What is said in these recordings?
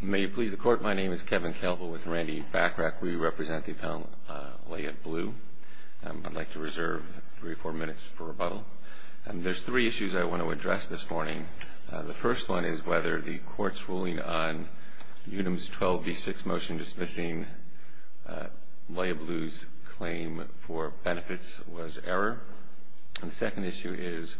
May it please the Court, my name is Kevin Calvo with Randy Bachrach. We represent the appellant Lea Blue. I'd like to reserve three or four minutes for rebuttal. There's three issues I want to address this morning. The first one is whether the Court's ruling on Unum's 12 v. 6 motion dismissing Lea Blue's claim for benefits was error. The second issue is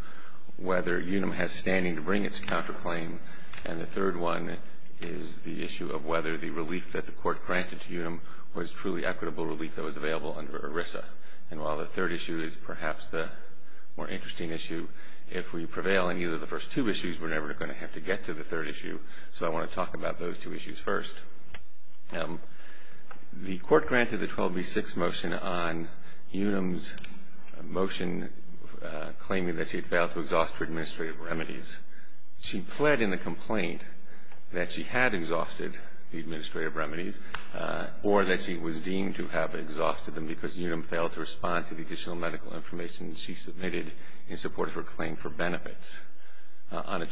whether Unum has standing to bring its counterclaim. And the third one is the issue of whether the relief that the Court granted to Unum was truly equitable relief that was available under ERISA. And while the third issue is perhaps the more interesting issue, if we prevail on either of the first two issues, we're never going to have to get to the third issue. So I want to talk about those two issues first. The Court granted the 12 v. 6 motion on Unum's motion claiming that she had failed to exhaust her administrative remedies. She pled in the complaint that she had exhausted the administrative remedies or that she was deemed to have exhausted them because Unum failed to respond to the additional medical information she submitted in support of her claim for benefits. On a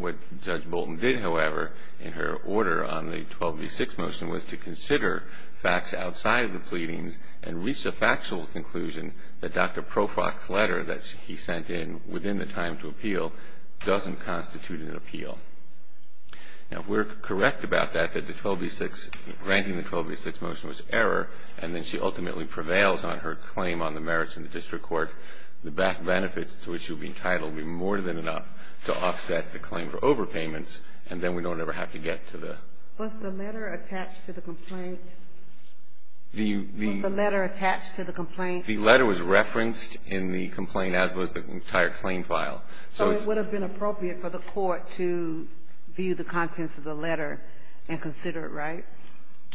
What Judge Bolton did, however, in her order on the 12 v. 6 motion was to consider facts outside of the pleadings and reach the factual conclusion that Dr. Profrock's letter that he sent in within the time to appeal doesn't constitute an appeal. Now, if we're correct about that, that the 12 v. 6, granting the 12 v. 6 motion was error, and then she ultimately prevails on her claim on the merits in the district court, the benefits to which she would be entitled would be more than enough to offset the claim for overpayments, and then we don't ever have to get to the Was the letter attached to the complaint? The Was the letter attached to the complaint? The letter was referenced in the complaint as was the entire claim file. So it would have been appropriate for the Court to view the contents of the letter and consider it right?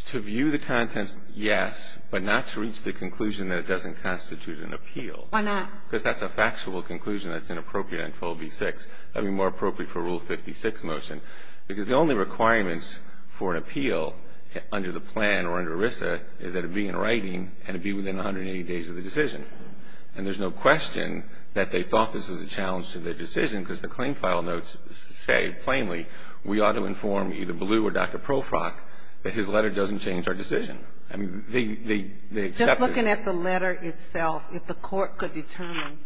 To view the contents, yes, but not to reach the conclusion that it doesn't constitute an appeal. Why not? Because that's a factual conclusion that's inappropriate on 12 v. 6. That would be more appropriate for Rule 56 motion. Because the only requirements for an appeal under the plan or under ERISA is that it be in writing and it be within 180 days of the decision. And there's no question that they thought this was a challenge to their decision, because the claim file notes say plainly we ought to inform either Ballew or Dr. Profrock that his letter doesn't change our decision. I mean, they accepted Looking at the letter itself, if the Court could determine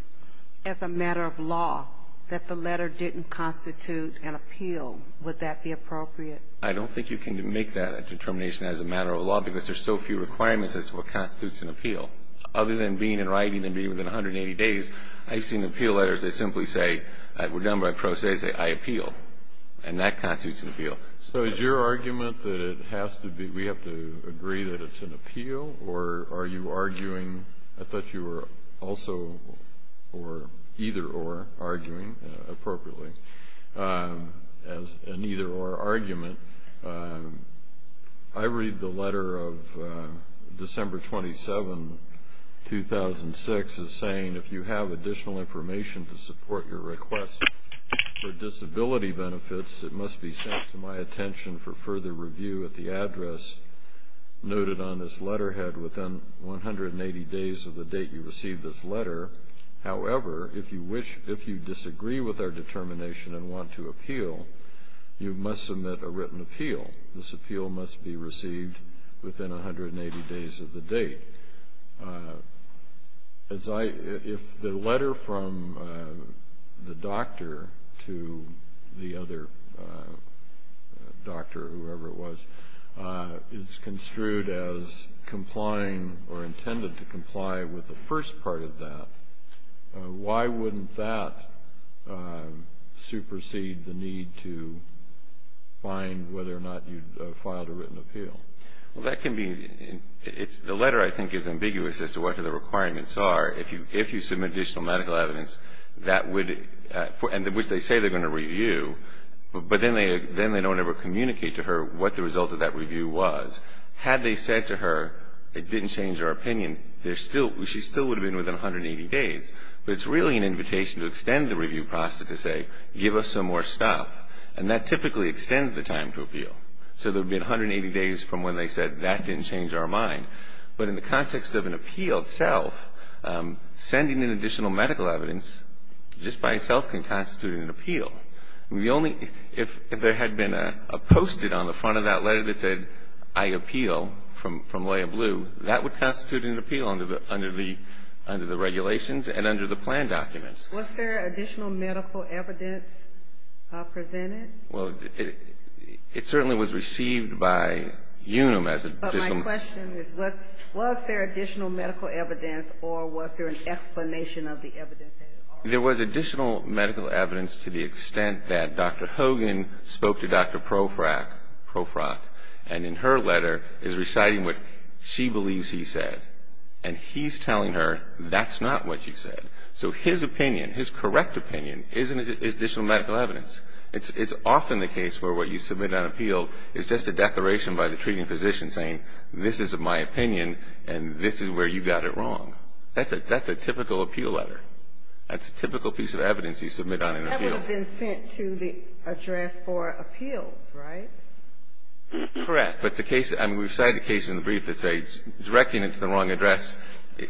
as a matter of law that the letter didn't constitute an appeal, would that be appropriate? I don't think you can make that determination as a matter of law, because there's so few requirements as to what constitutes an appeal. Other than being in writing and being within 180 days, I've seen appeal letters that simply say, we're done by pro se, I appeal. And that constitutes an appeal. So is your argument that it has to be, we have to agree that it's an appeal, or are you arguing, I thought you were also, or either or, arguing, appropriately, as an either or argument. I read the letter of December 27, 2006, as saying, if you have additional information to support your request for disability benefits, it must be sent to my attention for further review at the address noted on this letterhead within 180 days of the date you received this letter. However, if you disagree with our determination and want to appeal, you must submit a written appeal. This appeal must be received within 180 days of the date. If the letter from the doctor to the other doctor, whoever it was, is construed as complying or intended to comply with the first part of that, why wouldn't that supersede the need to find whether or not you'd filed a written appeal? Well, that can be, it's, the letter, I think, is ambiguous as to what the requirements are. If you submit additional medical evidence, that would, and which they say they're going to review, but then they don't ever communicate to her what the result of that review was. Had they said to her, it didn't change her opinion, there's still, she still would have been within 180 days. But it's really an invitation to extend the review process to say, give us some more stuff. And that typically extends the time to appeal. So there would be 180 days from when they said, that didn't change our mind. But in the context of an appeal itself, sending in additional medical evidence just by itself can constitute an appeal. The only, if there had been a post-it on the front of that letter that said, I appeal, from Loya Blue, that would constitute an appeal under the regulations and under the plan documents. Was there additional medical evidence presented? Well, it certainly was received by UNUM as an additional But my question is, was there additional medical evidence, or was there an explanation of the evidence that it offered? There was additional medical evidence to the extent that Dr. Hogan spoke to Dr. Profrak, Profrak, and in her letter is reciting what she believes he said. And he's telling her that's not what she said. So his opinion, his correct opinion, is additional medical evidence. It's often the case where what you submit on appeal is just a declaration by the treating physician saying, this is my opinion, and this is where you got it wrong. That's a typical appeal letter. That's a typical piece of evidence you submit on an appeal. That would have been sent to the address for appeals, right? Correct. But the case, I mean, we've cited a case in the brief that says directing it to the wrong address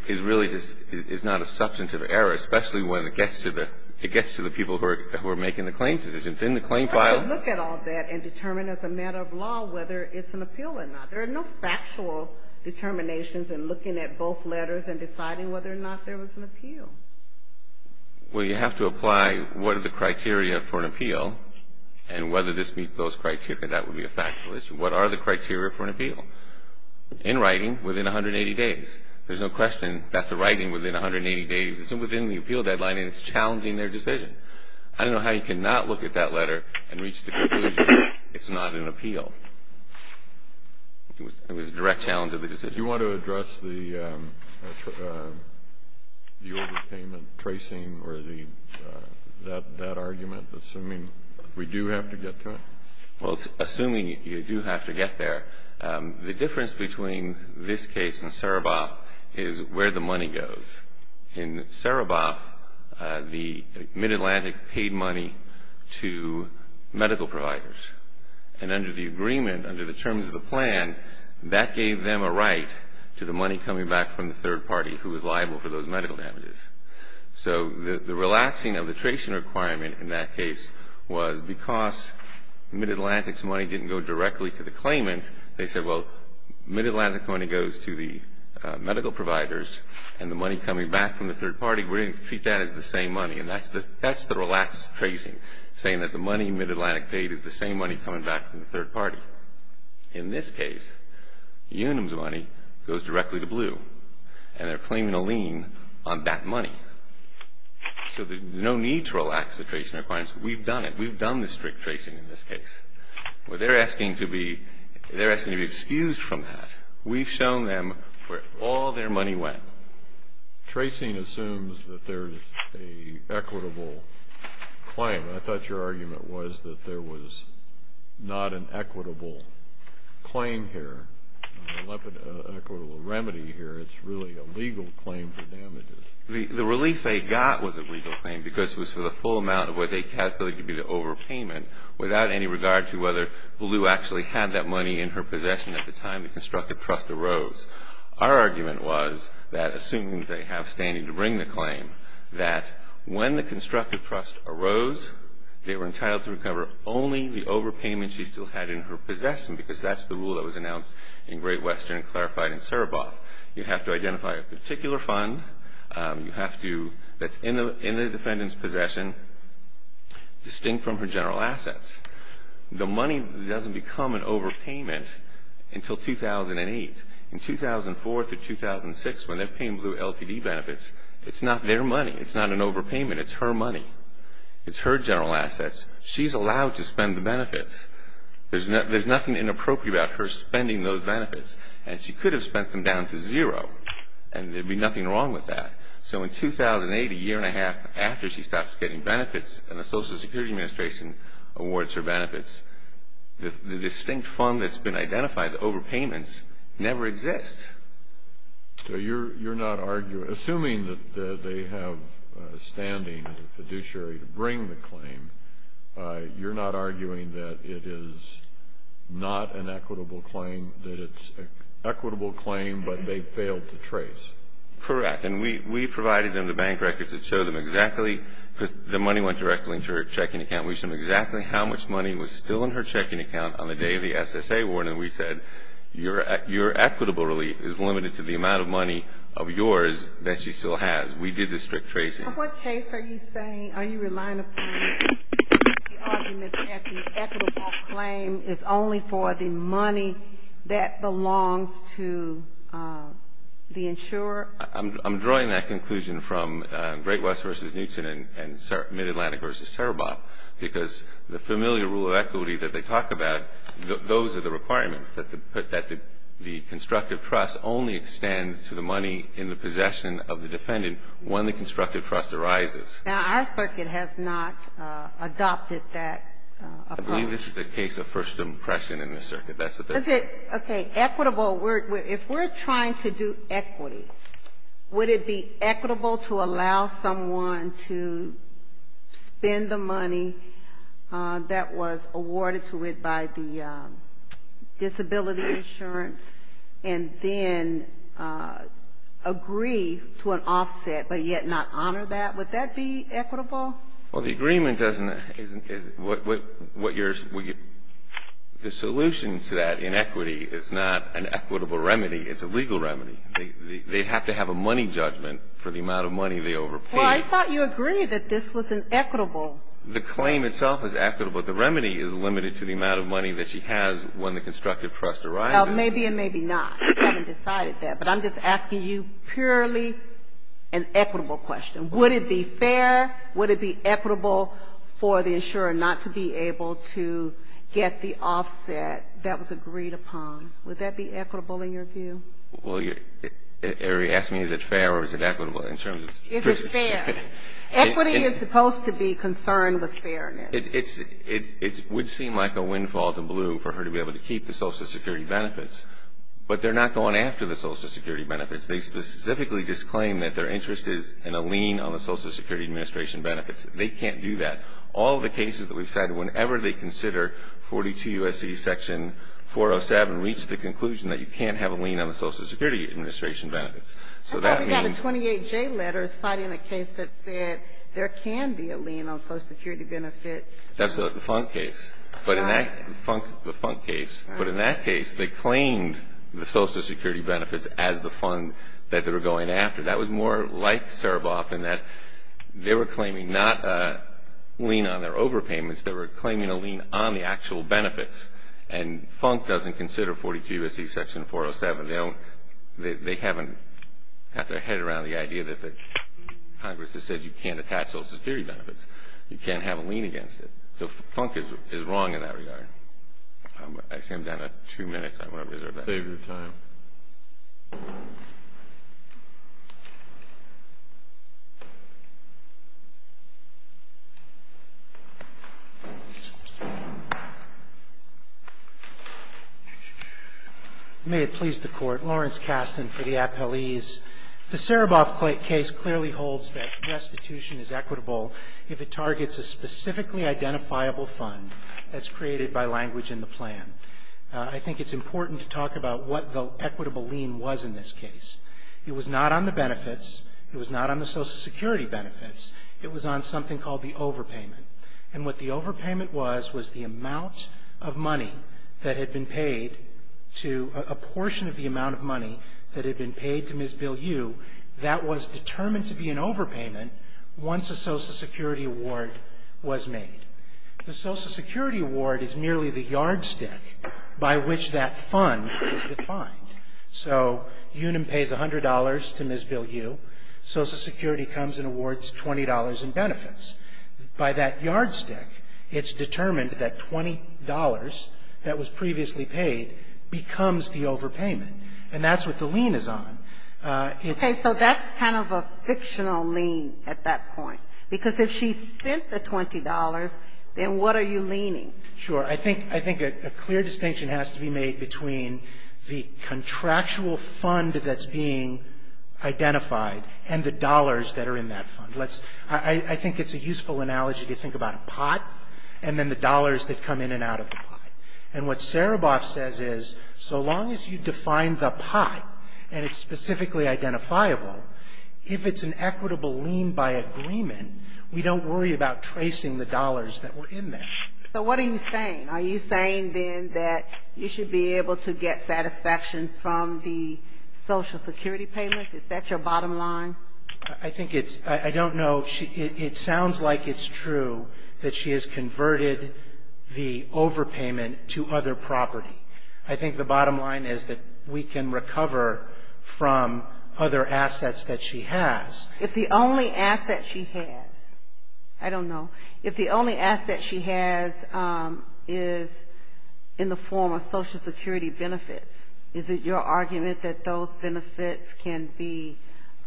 is really just, is not a substantive error, especially when it gets to the people who are making the claim decisions. In the claim file How do you look at all that and determine as a matter of law whether it's an appeal or not? There are no factual determinations in looking at both letters and deciding whether or not there was an appeal. Well, you have to apply what are the criteria for an appeal and whether this meets those criteria. That would be a factual issue. What are the criteria for an appeal? In writing, within 180 days. There's no question that's the writing within 180 days. It's within the appeal deadline, and it's challenging their decision. I don't know how you can not look at that letter and reach the conclusion that it's not an appeal. It was a direct challenge of the decision. Do you want to address the overpayment tracing or that argument, assuming we do have to get to it? Well, assuming you do have to get there, the difference between this case and Saraboff is where the money goes. In Saraboff, the Mid-Atlantic paid money to medical providers. And under the agreement, under the terms of the plan, that gave them a right to the money coming back from the third party who was liable for those medical damages. So the relaxing of the tracing requirement in that case was because Mid-Atlantic's money didn't go directly to the claimant. They said, well, Mid-Atlantic money goes to the medical providers, and the money coming back from the third party, we're going to treat that as the same money. And that's the relaxed tracing, saying that the money Mid-Atlantic paid is the same money coming back from the third party. In this case, Unum's money goes directly to Blue, and they're claiming a lien on that money. So there's no need to relax the tracing requirements. We've done it. We've done the strict tracing in this case. They're asking to be excused from that. We've shown them where all their money went. Tracing assumes that there's an equitable claim. I thought your argument was that there was not an equitable claim here, not an equitable remedy here. It's really a legal claim for damages. The relief they got was a legal claim, because it was for the full amount of what they calculated to be the overpayment, without any regard to whether Blue actually had that money in her possession at the time the constructive trust arose. Our argument was that, assuming they have standing to bring the claim, that when the constructive trust arose, they were entitled to recover only the overpayment she still had in her possession, because that's the rule that was announced in Great Western and clarified in Sereboff. You have to identify a particular fund that's in the defendant's possession distinct from her general assets. The money doesn't become an overpayment until 2008. In 2004 to 2006, when they're paying Blue LTD benefits, it's not their money. It's not an overpayment. It's her money. It's her general assets. She's allowed to spend the benefits. There's nothing inappropriate about her spending those benefits, and she could have spent them down to zero, and there'd be nothing wrong with that. So in 2008, a year and a half after she stops getting benefits and the Social Security Administration awards her benefits, the distinct fund that's been identified, the overpayments, never exist. So you're not arguing, assuming that they have standing, the fiduciary, to bring the equitable claim, that it's an equitable claim, but they failed to trace? Correct. And we provided them the bank records that show them exactly, because the money went directly into her checking account. We showed them exactly how much money was still in her checking account on the day of the SSA award, and we said, your equitable relief is limited to the amount of money of yours that she still has. We did the strict tracing. In what case are you saying, are you relying upon the argument that the equitable claim is only for the money that belongs to the insurer? I'm drawing that conclusion from Great West v. Newton and Mid-Atlantic v. Cerro Boca, because the familiar rule of equity that they talk about, those are the requirements, that the constructive trust only extends to the money in the possession of the defendant when the constructive trust arises. Now, our circuit has not adopted that approach. I believe this is a case of first impression in the circuit. That's what they're saying. Okay. Equitable. If we're trying to do equity, would it be equitable to allow someone to spend the money that was awarded to it by the disability insurance, and then agree to an offset, but yet not honor that? Would that be equitable? Well, the agreement doesn't – is – what you're – the solution to that inequity is not an equitable remedy. It's a legal remedy. They have to have a money judgment for the amount of money they overpaid. Well, I thought you agreed that this was an equitable – The claim itself is equitable. The remedy is limited to the amount of money that she has when the constructive trust arrives. Well, maybe and maybe not. We haven't decided that. But I'm just asking you purely an equitable remedy. Would it be equitable for the insurer not to be able to get the offset that was agreed upon? Would that be equitable in your view? Well, you're – Arie asked me is it fair or is it equitable in terms of – It's fair. Equity is supposed to be concerned with fairness. It's – it would seem like a windfall to Blue for her to be able to keep the Social Security benefits, but they're not going after the Social Security benefits. They specifically disclaimed that their interest is in a lien on the Social Security administration benefits. They can't do that. All the cases that we've cited, whenever they consider 42 U.S.C. section 407, reach the conclusion that you can't have a lien on the Social Security administration benefits. So that means – I thought we got a 28J letter citing a case that said there can be a lien on Social Security benefits. That's the Funk case. Right. But in that – the Funk case. Right. But in that case, they claimed the Social Security benefits as the fund that they were going after. That was more like Saraboff in that they were claiming not a lien on their overpayments. They were claiming a lien on the actual benefits. And Funk doesn't consider 42 U.S.C. section 407. They don't – they haven't got their head around the idea that the Congress has said you can't attach Social Security benefits. You can't have a lien against it. So Funk is wrong in that regard. I see I'm down to two minutes. I want to reserve that. Save your time. May it please the Court. Lawrence Kasten for the appellees. The Saraboff case clearly holds that restitution is equitable if it targets a specifically identifiable fund that's created by language in the plan. I think it's important to talk about what the equitable lien was in this case. It was not on the benefits. It was not on the Social Security benefits. It was on something called the overpayment. And what the overpayment was was the amount of money that had been paid to – a portion of the amount of money that had been paid to Ms. Bill Yu that was determined to be an overpayment once a Social Security award was made. The Social Security award is merely the yardstick by which that fund is defined. So Unum pays $100 to Ms. Bill Yu. Social Security comes and awards $20 in benefits. By that yardstick, it's determined that $20 that was previously paid becomes the overpayment. And that's what the lien is on. Okay. So that's kind of a fictional lien at that point. Because if she spent the $20, then what are you liening? Sure. I think a clear distinction has to be made between the contractual fund that's being identified and the dollars that are in that fund. Let's – I think it's a useful analogy to think about a pot and then the dollars that come in and out of the pot. And what Sereboff says is so long as you define the pot and it's specifically identifiable, if it's an equitable lien by agreement, we don't worry about tracing the dollars that were in there. So what are you saying? Are you saying then that you should be able to get satisfaction from the Social Security payments? Is that your bottom line? I think it's – I don't know. It sounds like it's true that she has converted the overpayment to other property. I think the bottom line is that we can recover from other assets that she has. If the only asset she has – I don't know – if the only asset she has is in the form of Social Security benefits, is it your argument that those benefits can be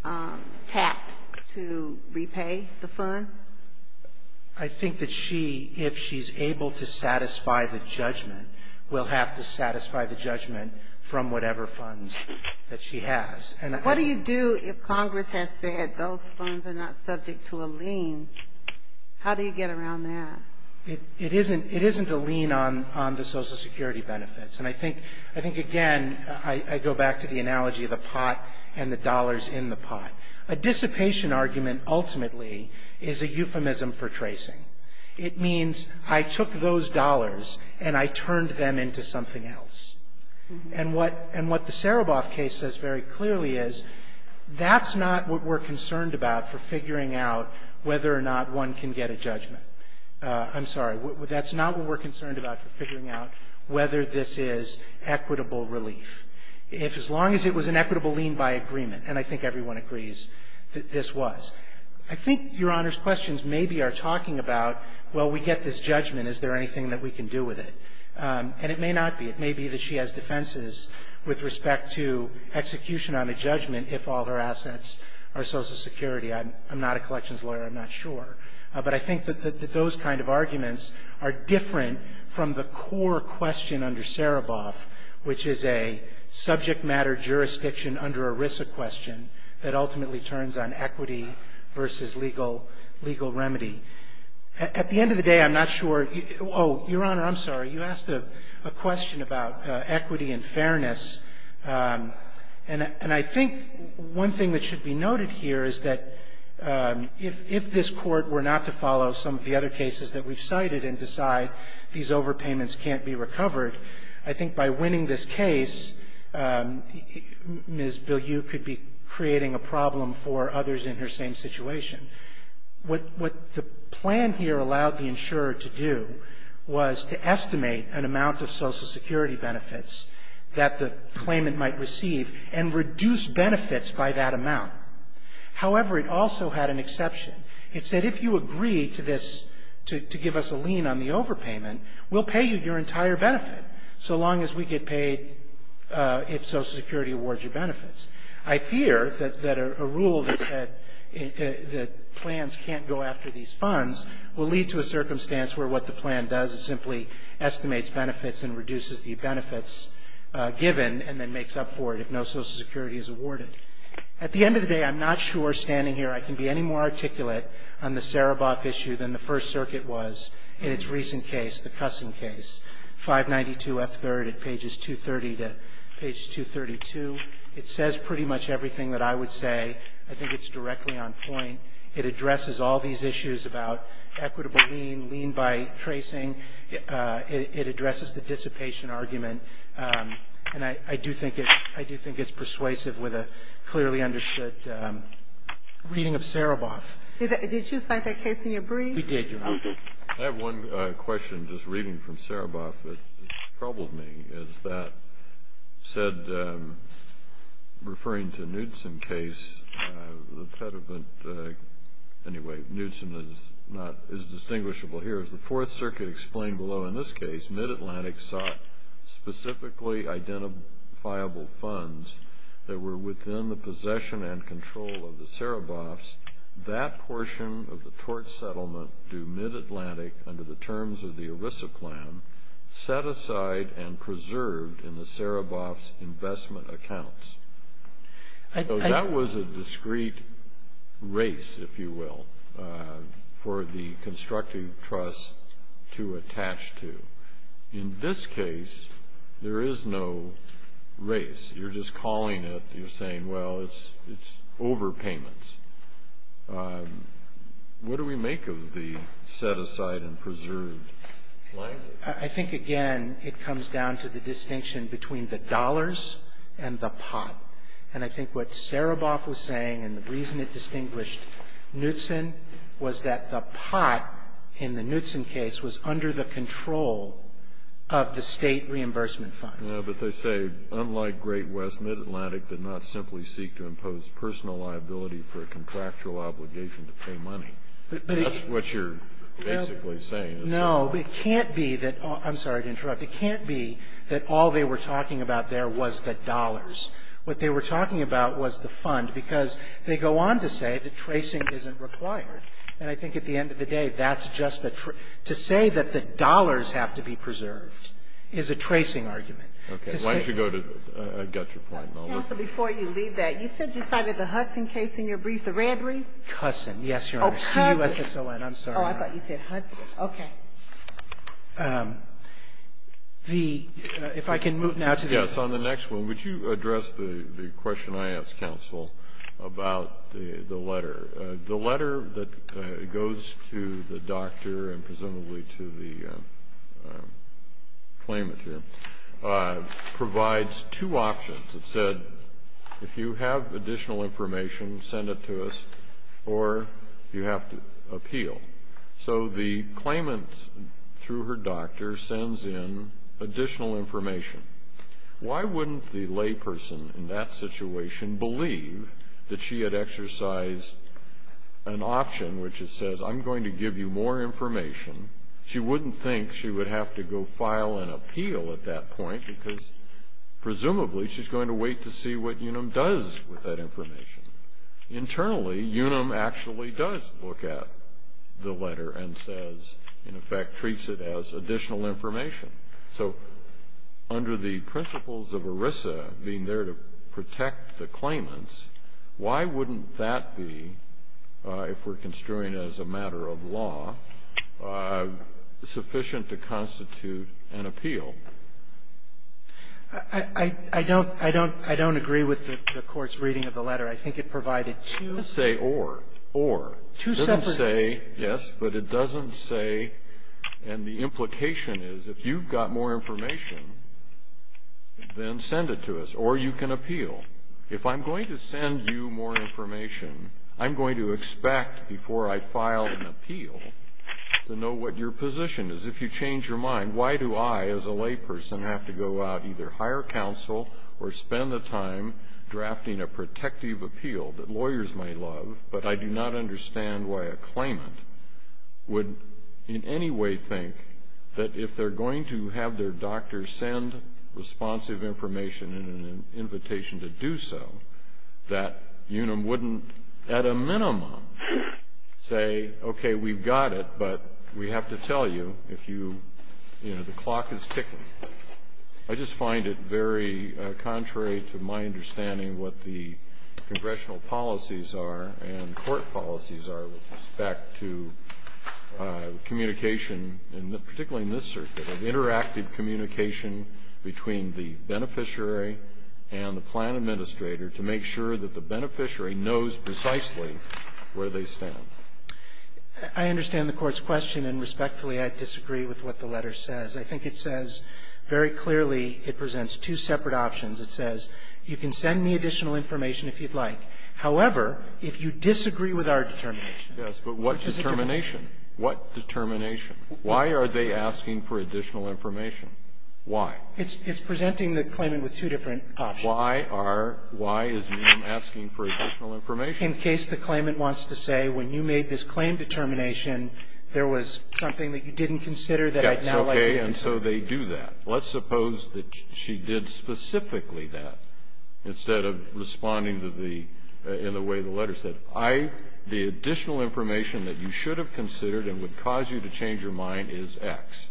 tapped to repay the fund? I think that she, if she's able to satisfy the judgment, will have to satisfy the judgment from whatever funds that she has. What do you do if Congress has said those funds are not subject to a lien? How do you get around that? It isn't a lien on the Social Security benefits. And I think, again, I go back to the analogy of the pot and the dollars in the pot. A dissipation argument ultimately is a euphemism for tracing. It means I took those dollars and I turned them into something else. And what the Sereboff case says very clearly is that's not what we're concerned about for figuring out whether or not one can get a judgment. I'm sorry. That's not what we're concerned about for figuring out whether this is equitable relief. If as long as it was an equitable lien by agreement, and I think everyone agrees that this was, I think Your Honor's questions maybe are talking about, well, we get this judgment. Is there anything that we can do with it? And it may not be. It may be that she has defenses with respect to execution on a judgment if all her assets are Social Security. I'm not a collections lawyer. I'm not sure. But I think that those kind of arguments are different from the core question under Sereboff, which is a subject matter jurisdiction under ERISA question that ultimately turns on equity versus legal remedy. At the end of the day, I'm not sure. Oh, Your Honor, I'm sorry. You asked a question about equity and fairness. And I think one thing that should be noted here is that if this Court were not to follow some of the other cases that we've cited and decide these overpayments can't be recovered, I think by winning this case, Ms. Bilyeu could be creating a problem for others in her same situation. What the plan here allowed the insurer to do was to estimate an amount of Social Security benefits that the claimant might receive and reduce benefits by that amount. However, it also had an exception. It said if you agree to this, to give us a lien on the overpayment, we'll pay you your entire benefit so long as we get paid if Social Security awards you benefits. I fear that a rule that said that plans can't go after these funds will lead to a circumstance where what the plan does is simply estimates benefits and reduces the benefits given and then makes up for it if no Social Security is awarded. At the end of the day, I'm not sure, standing here, I can be any more articulate on the Sereboff issue than the First Circuit was in its recent case, the Cussing case, 592F3 at pages 230 to page 232. It says pretty much everything that I would say. I think it's directly on point. It addresses all these issues about equitable lien, lien by tracing. It addresses the dissipation argument. And I do think it's persuasive with a clearly understood reading of Sereboff. Did you cite that case in your brief? We did, Your Honor. Okay. I have one question, just reading from Sereboff that troubled me, is that said referring to Knudsen case, the impediment, anyway, Knudsen is not, is distinguishable here. As the Fourth Circuit explained below in this case, Mid-Atlantic sought specifically identifiable funds that were within the possession and control of the Sereboffs. That portion of the tort settlement due Mid-Atlantic under the terms of the ERISA plan set aside and preserved in the Sereboffs' investment accounts. That was a discrete race, if you will, for the constructive trust to attach to. In this case, there is no race. You're just calling it, you're saying, well, it's overpayments. What do we make of the set aside and preserved? I think, again, it comes down to the distinction between the dollars and the pot. And I think what Sereboff was saying and the reason it distinguished Knudsen was that the pot in the Knudsen case was under the control of the state reimbursement funds. No, but they say, unlike Great West, Mid-Atlantic did not simply seek to impose personal liability for a contractual obligation to pay money. That's what you're basically saying. No, but it can't be that all they were talking about there was the dollars. What they were talking about was the fund, because they go on to say that tracing isn't required. And I think at the end of the day, that's just a true to say that the dollars have to be preserved is a tracing argument. Okay. Why don't you go to Gutser Point, Melody? Counsel, before you leave that, you said you cited the Hudson case in your brief, the red brief. Cusson, yes, Your Honor. Oh, Cusson. C-U-S-S-O-N. I'm sorry. Oh, I thought you said Hudson. Okay. The ‑‑ if I can move now to the ‑‑ Yes. On the next one, would you address the question I asked, Counsel, about the letter? The letter that goes to the doctor and presumably to the claimant here provides two options. It said, if you have additional information, send it to us, or you have to appeal. So the claimant, through her doctor, sends in additional information. Why wouldn't the layperson in that situation believe that she had exercised an option which says, I'm going to give you more information? She wouldn't think she would have to go file an appeal at that point because presumably she's going to wait to see what Unum does with that information. Internally, Unum actually does look at the letter and says, in effect, treats it as additional information. So under the principles of ERISA, being there to protect the claimants, why wouldn't that be, if we're construing it as a matter of law, sufficient to constitute an appeal? I don't agree with the court's reading of the letter. I think it provided two separate options. It doesn't say, yes, but it doesn't say, and the implication is, if you've got more information, then send it to us, or you can appeal. If I'm going to send you more information, I'm going to expect, before I file an appeal, to know what your position is. If you change your mind, why do I, as a layperson, have to go out, either hire counsel or spend the time drafting a protective appeal that lawyers may love, but I do not understand why a claimant would in any way think that if they're going to have their doctor send responsive information in an invitation to do so, that Unum wouldn't, at a minimum, say, okay, we've got it, but we have to tell you if you, you know, the clock is ticking. I just find it very contrary to my understanding of what the congressional policies are and court policies are with respect to communication, and particularly in this circuit, of interactive communication between the beneficiary and the plan administrator to make sure that the beneficiary knows precisely where they stand. I understand the court's question, and respectfully, I disagree with what the letter says. I think it says very clearly, it presents two separate options. It says, you can send me additional information if you'd like. However, if you disagree with our determination. Yes, but what determination? What determination? Why are they asking for additional information? Why? It's presenting the claimant with two different options. Why are, why is Unum asking for additional information? In case the claimant wants to say, when you made this claim determination, there was something that you didn't consider that I'd now like you to know. That's okay, and so they do that. Let's suppose that she did specifically that, instead of responding to the, in the way the letter said. I, the additional information that you should have considered and would cause you to change your mind is X.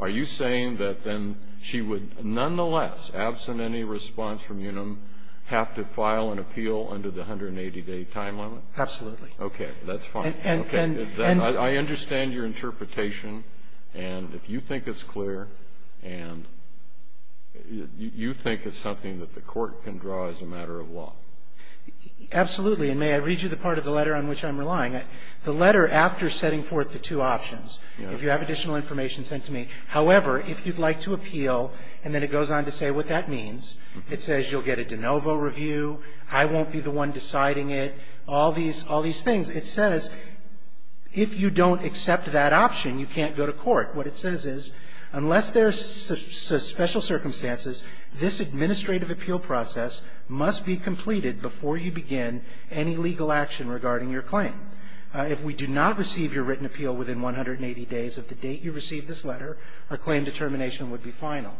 Are you saying that then she would nonetheless, absent any response from Unum, have to file an appeal under the 180-day time limit? Absolutely. Okay, that's fine. I understand your interpretation, and if you think it's clear, and you think it's something that the court can draw as a matter of law. Absolutely, and may I read you the part of the letter on which I'm relying? The letter, after setting forth the two options, if you have additional information sent to me. However, if you'd like to appeal, and then it goes on to say what that means, it says you'll get a de novo review, I won't be the one deciding it, all these, all these things. It says, if you don't accept that option, you can't go to court. What it says is, unless there's special circumstances, this administrative appeal process must be completed before you begin any legal action regarding your claim. If we do not receive your written appeal within 180 days of the date you received this letter, our claim determination would be final.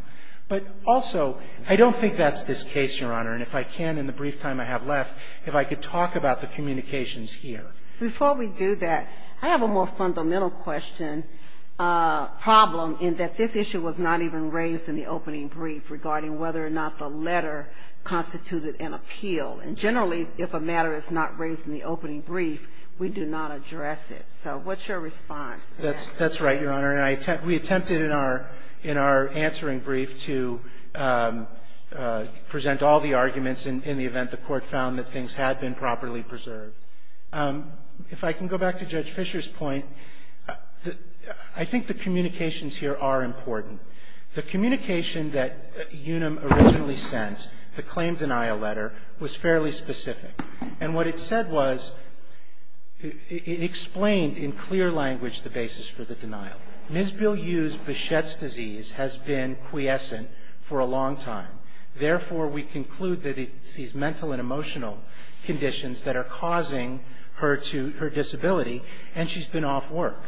But also, I don't think that's this case, Your Honor, and if I can, in the brief time I have left, if I could talk about the communications here. Before we do that, I have a more fundamental question, problem, in that this issue was not even raised in the opening brief regarding whether or not the letter constituted an appeal. And generally, if a matter is not raised in the opening brief, we do not address it. So what's your response to that? That's right, Your Honor. And we attempted in our answering brief to present all the arguments in the event that the court found that things had been properly preserved. If I can go back to Judge Fischer's point, I think the communications here are important. The communication that Unum originally sent, the claim denial letter, was fairly specific. And what it said was, it explained in clear language the basis for the denial. Ms. Bill U's Bichette's disease has been quiescent for a long time. Therefore, we conclude that it's these mental and emotional conditions that are causing her to, her disability, and she's been off work.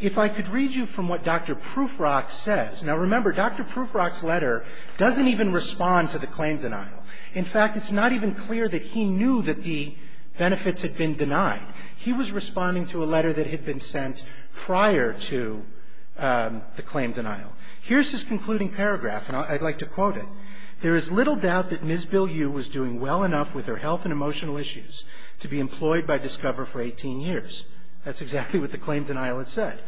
If I could read you from what Dr. Prufrock says. Now remember, Dr. Prufrock's letter doesn't even respond to the claim denial. In fact, it's not even clear that he knew that the benefits had been denied. He was responding to a letter that had been sent prior to the claim denial. Here's his concluding paragraph, and I'd like to quote it. There is little doubt that Ms. Bill U was doing well enough with her health and emotional issues to be employed by Discover for 18 years. That's exactly what the claim denial had said.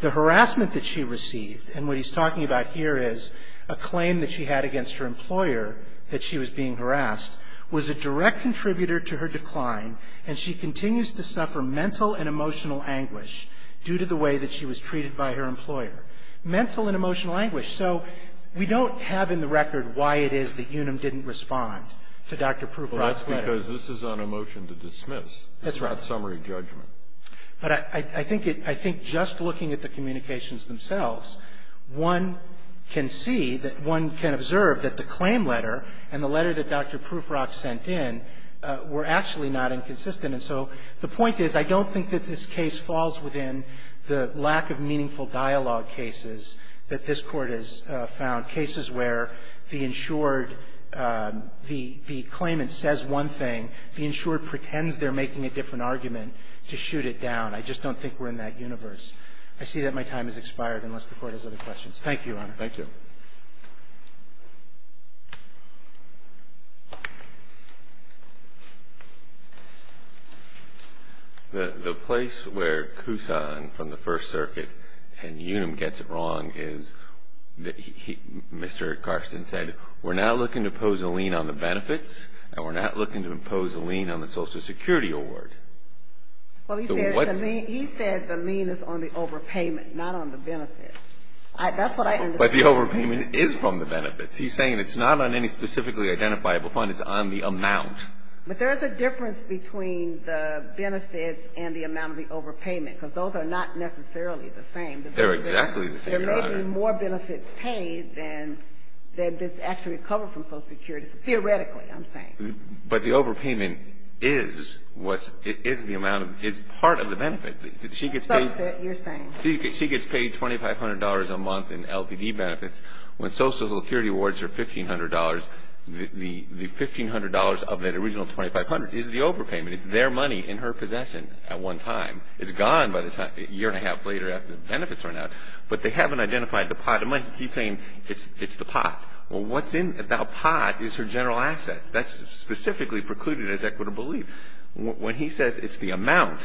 The harassment that she received, and what he's talking about here is a claim that she had against her employer that she was being harassed, was a direct contributor to her decline, and she continues to suffer mental and emotional anguish due to the way that she was treated by her employer. Mental and emotional anguish. So we don't have in the record why it is that Unum didn't respond to Dr. Prufrock's letter. Well, that's because this is on a motion to dismiss. That's right. This is not summary judgment. But I think it, I think just looking at the communications themselves, one can see that, one can observe that the claim letter and the letter that Dr. Prufrock sent in were actually not inconsistent. And so the point is I don't think that this case falls within the lack of meaningful dialogue cases that this Court has found. Cases where the insured, the claimant says one thing, the insured pretends they're making a different argument to shoot it down. I just don't think we're in that universe. I see that my time has expired unless the Court has other questions. Thank you, Your Honor. Thank you. The place where Kusan from the First Circuit and Unum gets it wrong is that Mr. Carsten said we're not looking to impose a lien on the benefits and we're not looking to impose a lien on the Social Security award. Well, he said the lien is on the overpayment, not on the benefits. That's what I understood. But the overpayment is from the benefits. He's saying it's not on any specifically identifiable fund. It's on the amount. But there is a difference between the benefits and the amount of the overpayment because those are not necessarily the same. They're exactly the same, Your Honor. There may be more benefits paid than this actually recovered from Social Security. Theoretically, I'm saying. But the overpayment is what's, is the amount of, is part of the benefit. She gets paid. That's what you're saying. She gets paid $2,500 a month in LPD benefits. When Social Security awards are $1,500, the $1,500 of that original $2,500 is the overpayment. It's their money in her possession at one time. It's gone by the time, a year and a half later after the benefits run out. But they haven't identified the pot. He's saying it's the pot. Well, what's in that pot is her general assets. That's specifically precluded as equitable lien. When he says it's the amount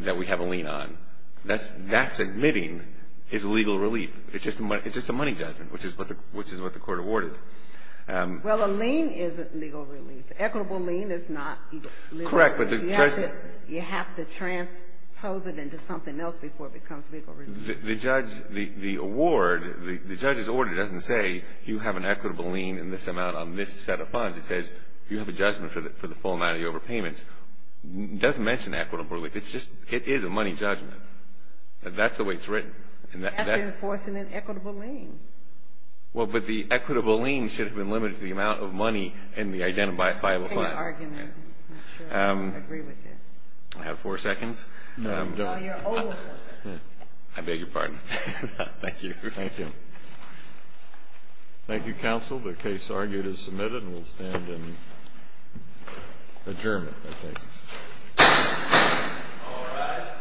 that we have a lien on, that's admitting it's legal relief. It's just a money judgment, which is what the court awarded. Well, a lien isn't legal relief. Equitable lien is not legal relief. Correct, but the judge. You have to transpose it into something else before it becomes legal relief. The judge, the award, the judge's order doesn't say you have an equitable lien in this amount on this set of funds. It says you have a judgment for the full amount of the overpayments. It doesn't mention equitable relief. It is a money judgment. That's the way it's written. That's enforcing an equitable lien. Well, but the equitable lien should have been limited to the amount of money in the identifiable fund. I can't argue with that. I'm not sure I agree with that. I have four seconds. No, you're over four seconds. I beg your pardon. Thank you. Thank you. Thank you, counsel. The case argued is submitted and we'll stand in adjournment, I think. All rise.